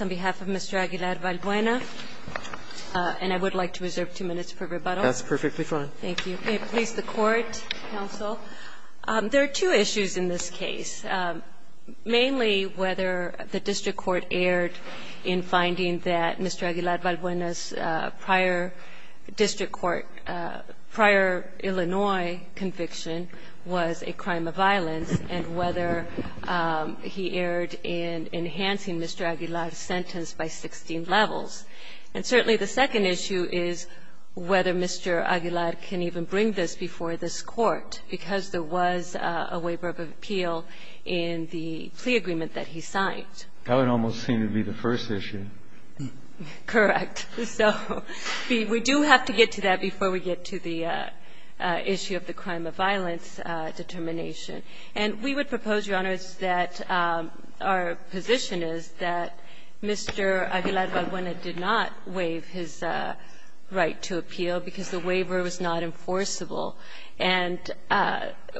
on behalf of Mr. Aguilar-Balbuena, and I would like to reserve two minutes for rebuttal. That's perfectly fine. Thank you. May it please the Court, Counsel, there are two issues in this case, mainly whether the district court erred in finding that Mr. Aguilar-Balbuena's prior district court, prior Illinois conviction was a crime of violence, and whether he erred in enhancing Mr. Aguilar's sentence by 16 levels. And certainly the second issue is whether Mr. Aguilar can even bring this before this Court, because there was a waiver of appeal in the plea agreement that he signed. That would almost seem to be the first issue. Correct. So we do have to get to that before we get to the issue of the crime of violence determination. And we would propose, Your Honors, that our position is that Mr. Aguilar-Balbuena did not waive his right to appeal because the waiver was not enforceable. And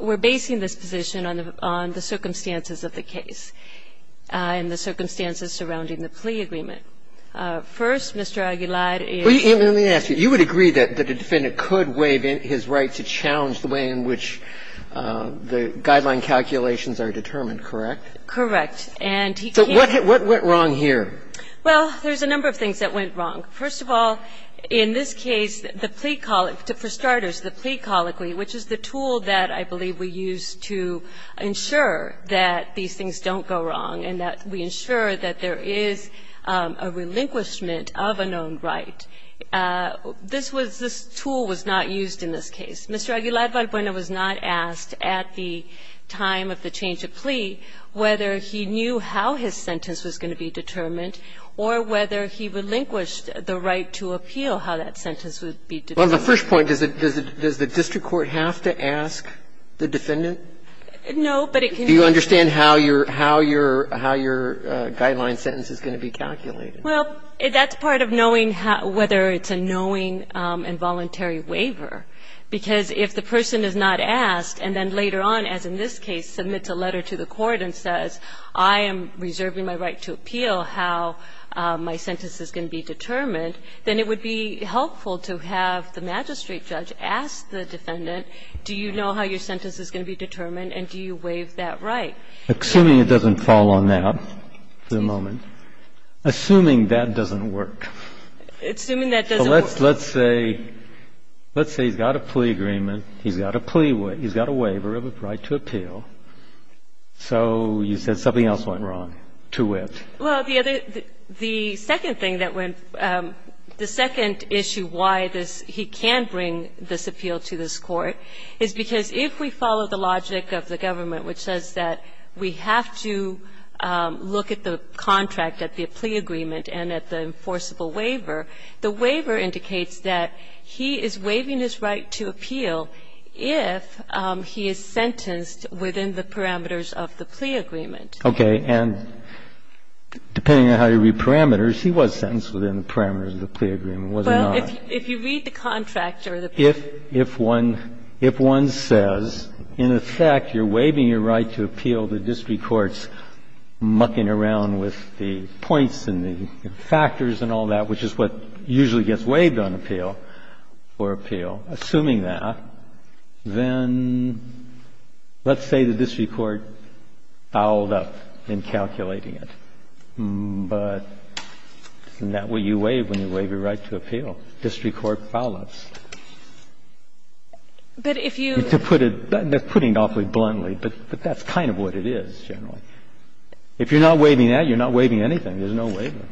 we're basing this position on the circumstances of the case and the circumstances surrounding the plea agreement. First, Mr. Aguilar is the defendant. Roberts, you would agree that the defendant could waive his right to challenge the way in which the guideline calculations are determined, correct? Correct. And he can't. So what went wrong here? Well, there's a number of things that went wrong. First of all, in this case, the plea colloquy, for starters, the plea colloquy, which is the tool that I believe we use to ensure that these things don't go wrong and that we ensure that there is a relinquishment of a known right. This was this tool was not used in this case. Mr. Aguilar-Balbuena was not asked at the time of the change of plea whether he knew how his sentence was going to be determined or whether he relinquished the right to appeal, how that sentence would be determined. Well, the first point, does the district court have to ask the defendant? No, but it can be. Do you understand how your guideline sentence is going to be calculated? Well, that's part of knowing whether it's a knowing and voluntary waiver, because if the person is not asked and then later on, as in this case, submits a letter to the court and says, I am reserving my right to appeal how my sentence is going to be determined, then it would be helpful to have the magistrate judge ask the defendant, do you know how your sentence is going to be determined and do you waive that right? Assuming it doesn't fall on that for the moment, assuming that doesn't work. Assuming that doesn't work. Let's say he's got a plea agreement, he's got a plea waiver, he's got a waiver of a right to appeal, so you said something else went wrong to it. Well, the other the second thing that went, the second issue why this, he can bring this appeal to this court, is because if we follow the logic of the government, which says that we have to look at the contract, at the plea agreement and at the enforceable waiver, the waiver indicates that he is waiving his right to appeal if he is sentenced within the parameters of the plea agreement. Okay. And depending on how you read parameters, he was sentenced within the parameters of the plea agreement, was he not? If you read the contract or the plea agreement. If one says, in effect, you're waiving your right to appeal, the district court's mucking around with the points and the factors and all that, which is what usually gets waived on appeal, or appeal, assuming that, then let's say the district court bowled up in calculating it. But isn't that what you waive when you waive your right to appeal? District court foul-ups. To put it, that's putting it awfully bluntly, but that's kind of what it is, generally. If you're not waiving that, you're not waiving anything. There's no waiver.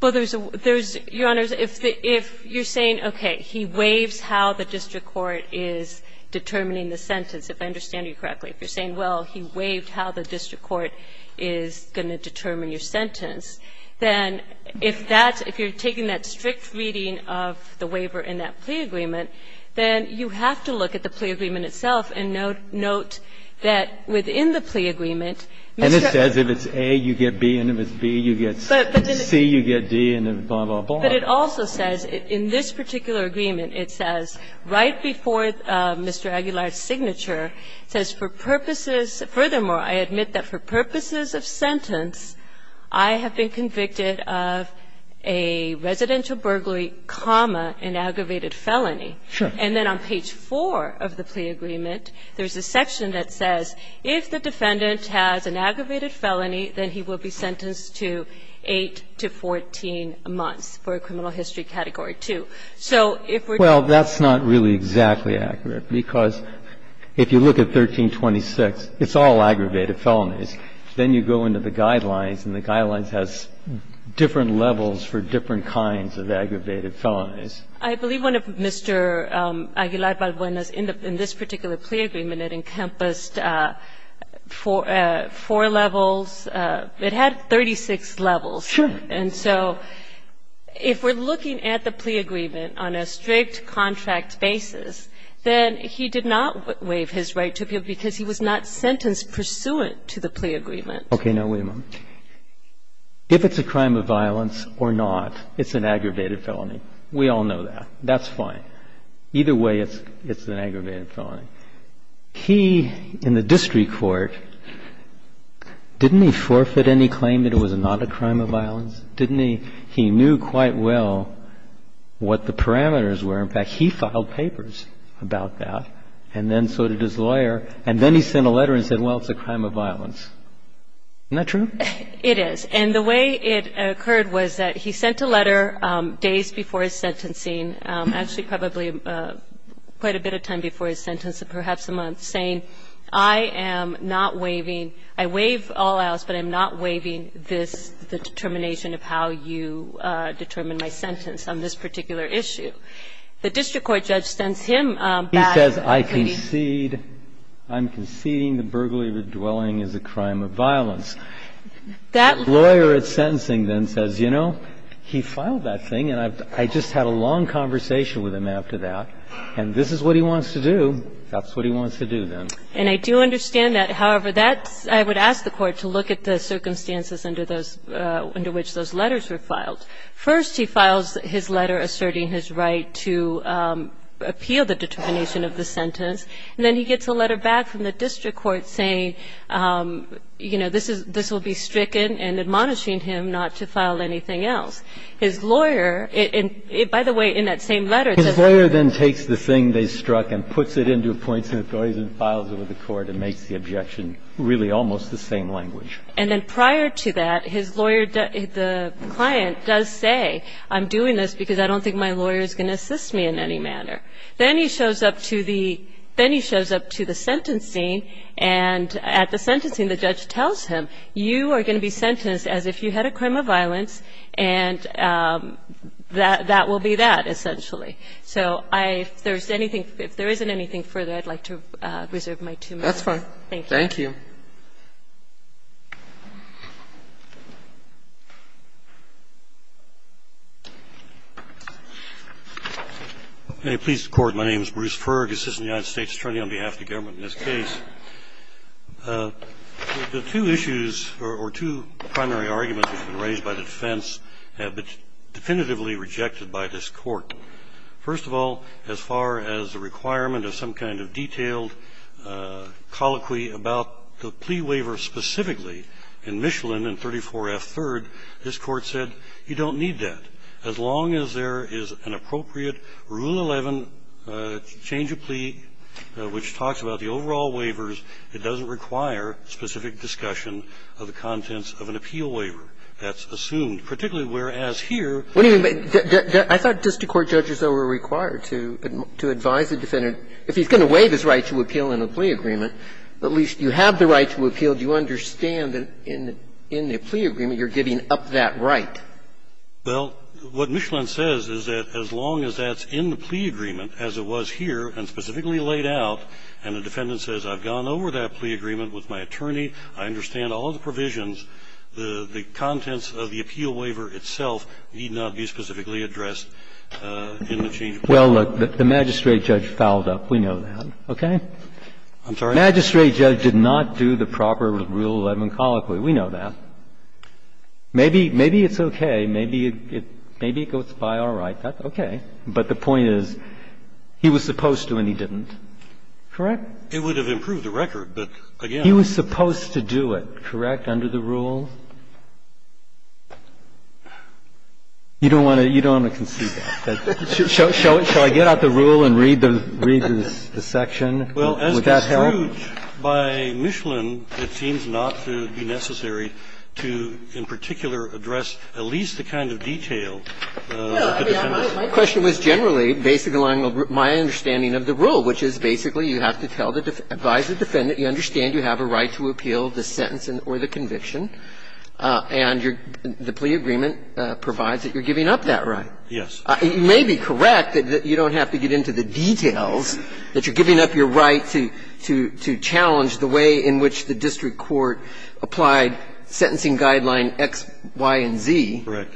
Well, there's a – there's, Your Honor, if you're saying, okay, he waives how the district court is determining the sentence, if I understand you correctly. If you're saying, well, he waived how the district court is going to determine your sentence, then if that's – if you're taking that strict reading of the waiver in that plea agreement, then you have to look at the plea agreement itself and note that within the plea agreement, Mr. Aguilar's signature says that if it's A, you get B, and if it's B, you get C, you get D, and blah, blah, blah. But it also says, in this particular agreement, it says right before Mr. Aguilar's I have been convicted of a residential burglary, comma, an aggravated felony. And then on page 4 of the plea agreement, there's a section that says, if the defendant has an aggravated felony, then he will be sentenced to 8 to 14 months for a criminal history category 2. So if we're going to say, well, that's not really exactly accurate, because if you look at 1326, it's all aggravated felonies. Then you go into the guidelines, and the guidelines has different levels for different kinds of aggravated felonies. I believe one of Mr. Aguilar Balbuena's in this particular plea agreement, it encompassed four levels. It had 36 levels. And so if we're looking at the plea agreement on a strict contract basis, then he did not waive his right to appeal because he was not sentenced pursuant to the plea agreement. Okay. Now, wait a moment. If it's a crime of violence or not, it's an aggravated felony. We all know that. That's fine. Either way, it's an aggravated felony. He, in the district court, didn't he forfeit any claim that it was not a crime of violence? Didn't he? He knew quite well what the parameters were. In fact, he filed papers about that. And then so did his lawyer. And then he sent a letter and said, well, it's a crime of violence. Isn't that true? It is. And the way it occurred was that he sent a letter days before his sentencing, actually probably quite a bit of time before his sentence, perhaps a month, saying, I am not waiving. I waive all else, but I'm not waiving this, the determination of how you determine my sentence on this particular issue. The district court judge sends him back. He says, I concede, I'm conceding the burglary of the dwelling is a crime of violence. That lawyer at sentencing then says, you know, he filed that thing, and I just had a long conversation with him after that, and this is what he wants to do. That's what he wants to do then. And I do understand that. However, that's – I would ask the Court to look at the circumstances under those – under which those letters were filed. First, he files his letter asserting his right to appeal the determination of the sentence, and then he gets a letter back from the district court saying, you know, this is – this will be stricken and admonishing him not to file anything else. His lawyer – and, by the way, in that same letter, it says – His lawyer then takes the thing they struck and puts it into a points and authorities and files it with the court and makes the objection really almost the same language. And then prior to that, his lawyer – the client does say, I'm doing this because I don't think my lawyer is going to assist me in any manner. Then he shows up to the – then he shows up to the sentencing, and at the sentencing, the judge tells him, you are going to be sentenced as if you had a crime of violence, and that – that will be that, essentially. So I – if there's anything – if there isn't anything further, I'd like to reserve my two minutes. Thank you. Thank you, Your Honor. Thank you. Thank you. Thank you. Please record my name is Bruce Fergus, Assistant United States Attorney on behalf of the government in this case. The two issues, or two primary arguments which have been raised by the defense have been definitively rejected by this Court. First of all, as far as the requirement of some kind of detailed colloquy about the plea waiver specifically, in Michelin in 34F3rd, this Court said you don't need that. As long as there is an appropriate Rule 11 change of plea which talks about the overall waivers, it doesn't require specific discussion of the contents of an appeal waiver. Particularly whereas here the other way around. If the defendant is going to waive his right to appeal in a plea agreement, at least you have the right to appeal. Do you understand that in the plea agreement you're giving up that right? Well, what Michelin says is that as long as that's in the plea agreement as it was here and specifically laid out, and the defendant says I've gone over that plea agreement with my attorney, I understand all the provisions, the contents of the plea agreement, I understand all the provisions in the change of pleas. Well, look, the magistrate judge fouled up. We know that. Okay? I'm sorry? The magistrate judge did not do the proper Rule 11 colloquy. We know that. Maybe it's okay, maybe it goes by all right, that's okay, but the point is he was supposed to and he didn't, correct? It would have improved the record, but, again, I don't know. He was supposed to do it, correct, under the rule? You don't want to conceit that. Shall I get out the rule and read the section? Would that help? Well, as construed by Michelin, it seems not to be necessary to in particular address at least the kind of detail of the defendant's case. My question was generally based on my understanding of the rule, which is basically you have to tell the defendant, advise the defendant, you understand you have a right to appeal the sentence or the conviction, and the plea agreement provides that you're giving up that right. Yes. It may be correct that you don't have to get into the details, that you're giving up your right to challenge the way in which the district court applied sentencing guideline X, Y, and Z. Correct.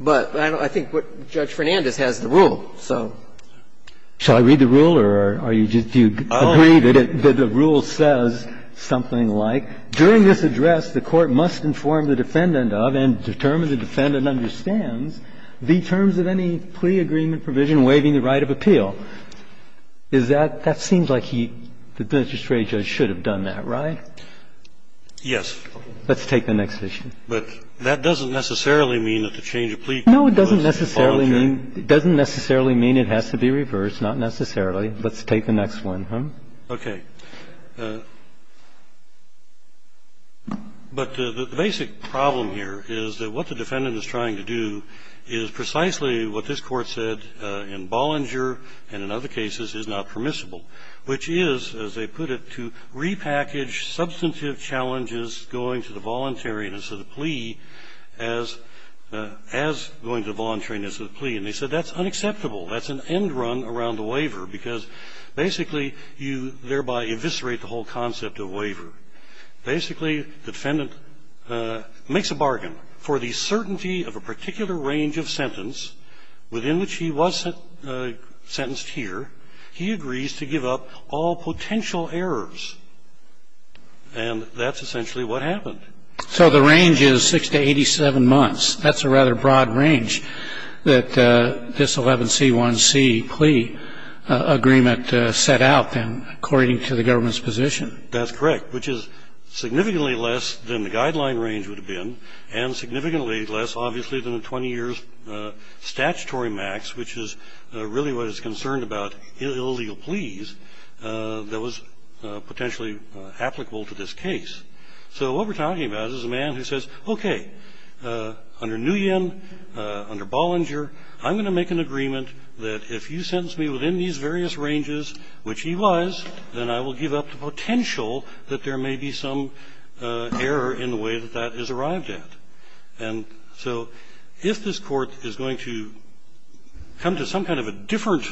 But I think Judge Fernandez has the rule, so. Shall I read the rule, or are you just, do you agree that the rule says something like, during this address, the court must inform the defendant of and determine the defendant understands the terms of any plea agreement provision waiving the right of appeal. Is that, that seems like he, the district judge should have done that, right? Yes. Let's take the next issue. But that doesn't necessarily mean that the change of plea clause was voluntary. It doesn't necessarily mean it has to be reversed, not necessarily. Let's take the next one. Okay. But the basic problem here is that what the defendant is trying to do is precisely what this Court said in Bollinger and in other cases is not permissible, which is, as they put it, to repackage substantive challenges going to the voluntariness of the plea as going to the voluntariness of the plea. And they said that's unacceptable. That's an end run around the waiver, because basically you thereby eviscerate the whole concept of waiver. Basically, the defendant makes a bargain for the certainty of a particular range of sentence within which he was sentenced here. He agrees to give up all potential errors, and that's essentially what happened. So the range is 6 to 87 months. That's a rather broad range that this 11C1C plea agreement set out, then, according to the government's position. That's correct, which is significantly less than the guideline range would have been, and significantly less, obviously, than the 20 years statutory max, which is really what is concerned about illegal pleas that was potentially applicable to this case. So what we're talking about is a man who says, OK, under Nguyen, under Bollinger, I'm going to make an agreement that if you sentence me within these various ranges, which he was, then I will give up the potential that there may be some error in the way that that is arrived at. And so if this court is going to come to some kind of a different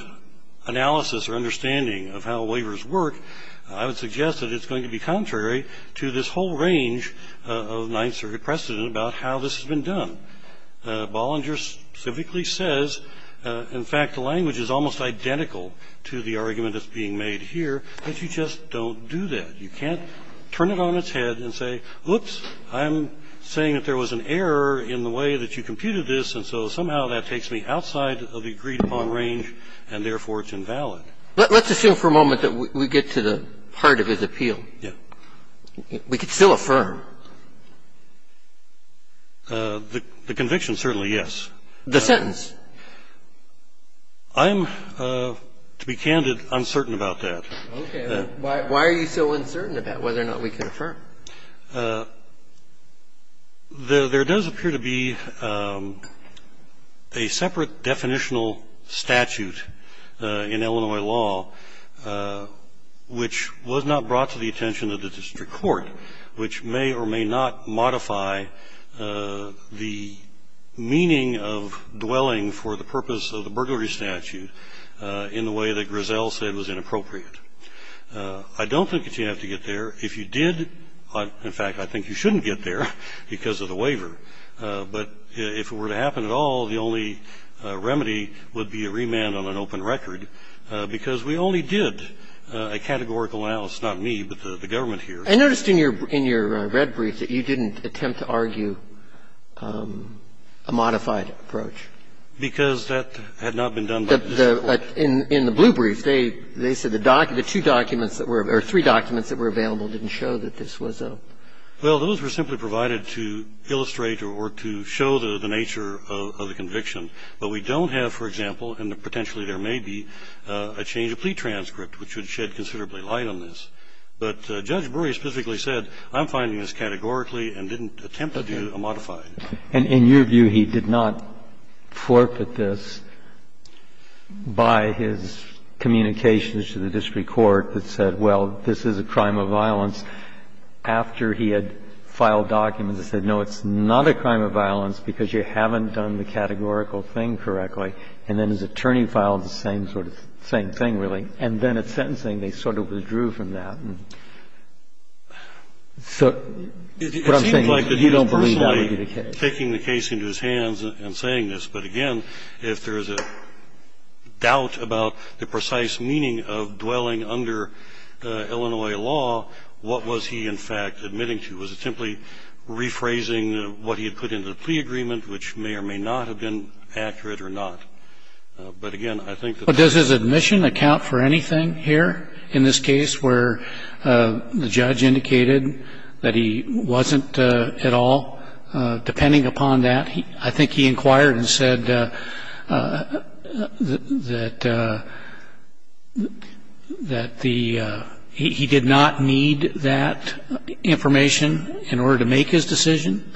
analysis or understanding of how waivers work, I would suggest that it's going to be contrary to this whole range of Ninth Circuit precedent about how this has been done. Bollinger specifically says, in fact, the language is almost identical to the argument that's being made here, that you just don't do that. You can't turn it on its head and say, oops, I'm saying that there was an error in the way that you computed this, and so somehow that takes me outside of the agreed-upon range, and therefore it's invalid. Let's assume for a moment that we get to the heart of his appeal. Yeah. We could still affirm. The conviction, certainly, yes. The sentence. I'm, to be candid, uncertain about that. Okay. Why are you so uncertain about whether or not we can affirm? There does appear to be a separate definitional statute in Illinois law, which was not brought to the attention of the district court, which may or may not modify the meaning of dwelling for the purpose of the burglary statute in the way that Grisell said was inappropriate. I don't think that you have to get there. If you did, in fact, I think you shouldn't get there because of the waiver. But if it were to happen at all, the only remedy would be a remand on an open record because we only did a categorical analysis, not me, but the government here. I noticed in your red brief that you didn't attempt to argue a modified approach. Because that had not been done by the district court. In the blue brief, they said the two documents that were, or three documents that were available didn't show that this was a. Well, those were simply provided to illustrate or to show the nature of the conviction. But we don't have, for example, and potentially there may be, a change of plea transcript, which would shed considerably light on this. But Judge Brewer specifically said, I'm finding this categorically and didn't attempt to do a modified. And in your view, he did not forfeit this by his communications to the district court that said, well, this is a crime of violence, after he had filed documents that said, no, it's not a crime of violence because you haven't done the categorical thing correctly. And then his attorney filed the same sort of thing, same thing, really. And then at sentencing, they sort of withdrew from that. So what I'm saying is you don't believe that would be the case. It seems like he was personally taking the case into his hands and saying this. But again, if there is a doubt about the precise meaning of dwelling under Illinois law, what was he, in fact, admitting to? Was it simply rephrasing what he had put into the plea agreement, which may or may not have been accurate or not? But again, I think that's the case. But does his admission account for anything here, in this case, where the judge indicated that he wasn't at all, depending upon that? He did not need that information in order to make his decision?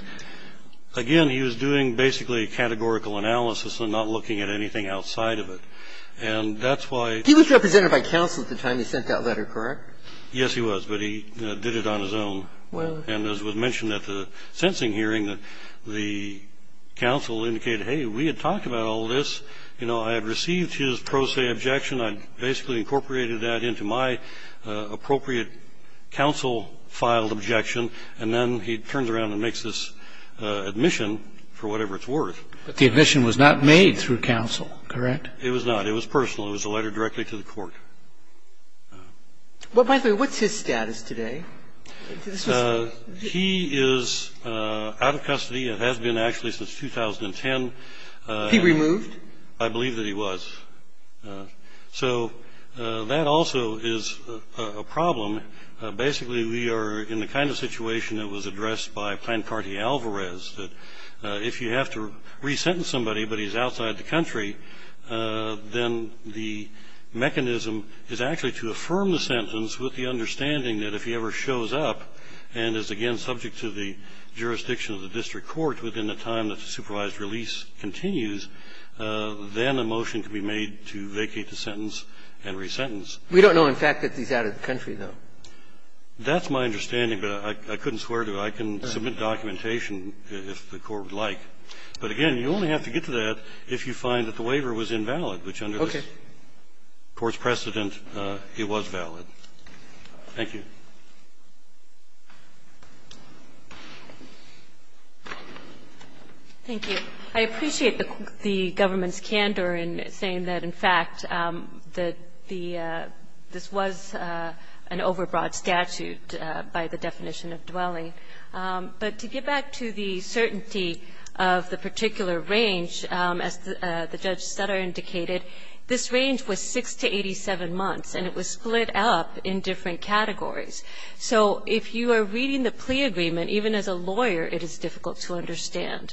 Again, he was doing basically a categorical analysis and not looking at anything outside of it. And that's why he was represented by counsel at the time he sent that letter, correct? Yes, he was. But he did it on his own. And as was mentioned at the sentencing hearing, the counsel indicated, hey, we had talked about all this. You know, I had received his pro se objection. I basically incorporated that into my appropriate counsel-filed objection. And then he turns around and makes this admission, for whatever it's worth. But the admission was not made through counsel, correct? It was not. It was personal. It was a letter directly to the court. Well, by the way, what's his status today? He is out of custody and has been, actually, since 2010. He removed? I believe that he was. So that also is a problem. Basically, we are in the kind of situation that was addressed by Plancarti-Alvarez, that if you have to resentence somebody but he's outside the country, then the mechanism is actually to affirm the sentence with the understanding that if he ever shows up and is, again, subject to the jurisdiction of the district court within the time that the supervised release continues, then a motion can be made to vacate the sentence and resentence. We don't know, in fact, that he's out of the country, though. That's my understanding, but I couldn't swear to it. I can submit documentation if the Court would like. But, again, you only have to get to that if you find that the waiver was invalid, which under this Court's precedent, it was valid. Thank you. Thank you. I appreciate the government's candor in saying that, in fact, that the this was an overbroad statute by the definition of dwelling. But to get back to the certainty of the particular range, as the Judge Sutter indicated, this range was 6 to 87 months, and it was split up in different categories. So if you are reading the plea agreement, even as a lawyer, it is difficult to understand.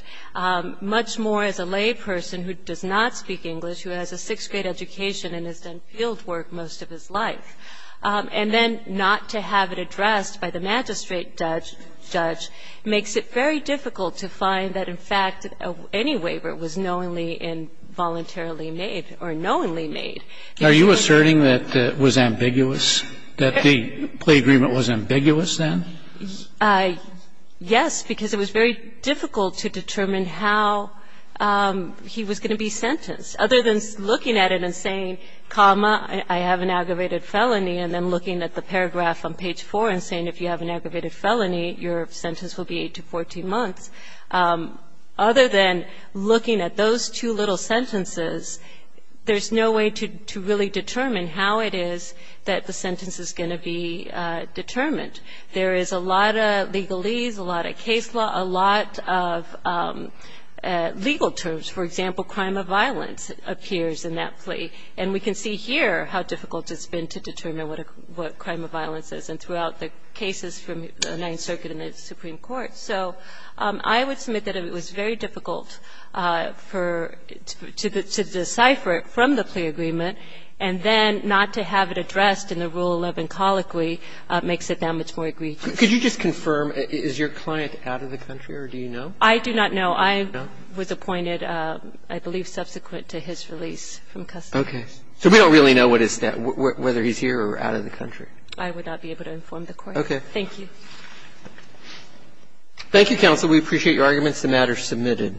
Much more as a layperson who does not speak English, who has a sixth-grade education and has done fieldwork most of his life, and then not to have it addressed by the magistrate judge, makes it very difficult to find that, in fact, any waiver was knowingly and voluntarily made or knowingly made. Are you asserting that it was ambiguous, that the plea agreement was ambiguous, then? Yes, because it was very difficult to determine how he was going to be sentenced. Other than looking at it and saying, comma, I have an aggravated felony, and then looking at the paragraph on page 4 and saying, if you have an aggravated felony, your sentence will be 8 to 14 months, other than looking at those two little sentences, there's no way to really determine how it is that the sentence is going to be determined. There is a lot of legalese, a lot of case law, a lot of legal terms. For example, crime of violence appears in that plea. And we can see here how difficult it's been to determine what crime of violence is, and throughout the cases from the Ninth Circuit and the Supreme Court. So I would submit that it was very difficult for to decipher it from the plea agreement, and then not to have it addressed in the Rule 11 colloquy makes it that much more agreed to. Could you just confirm, is your client out of the country, or do you know? I do not know. I was appointed, I believe, subsequent to his release from custody. Okay. So we don't really know what his status is, whether he's here or out of the country. I would not be able to inform the Court. Okay. Thank you. Thank you, counsel. We appreciate your arguments. The matter is submitted.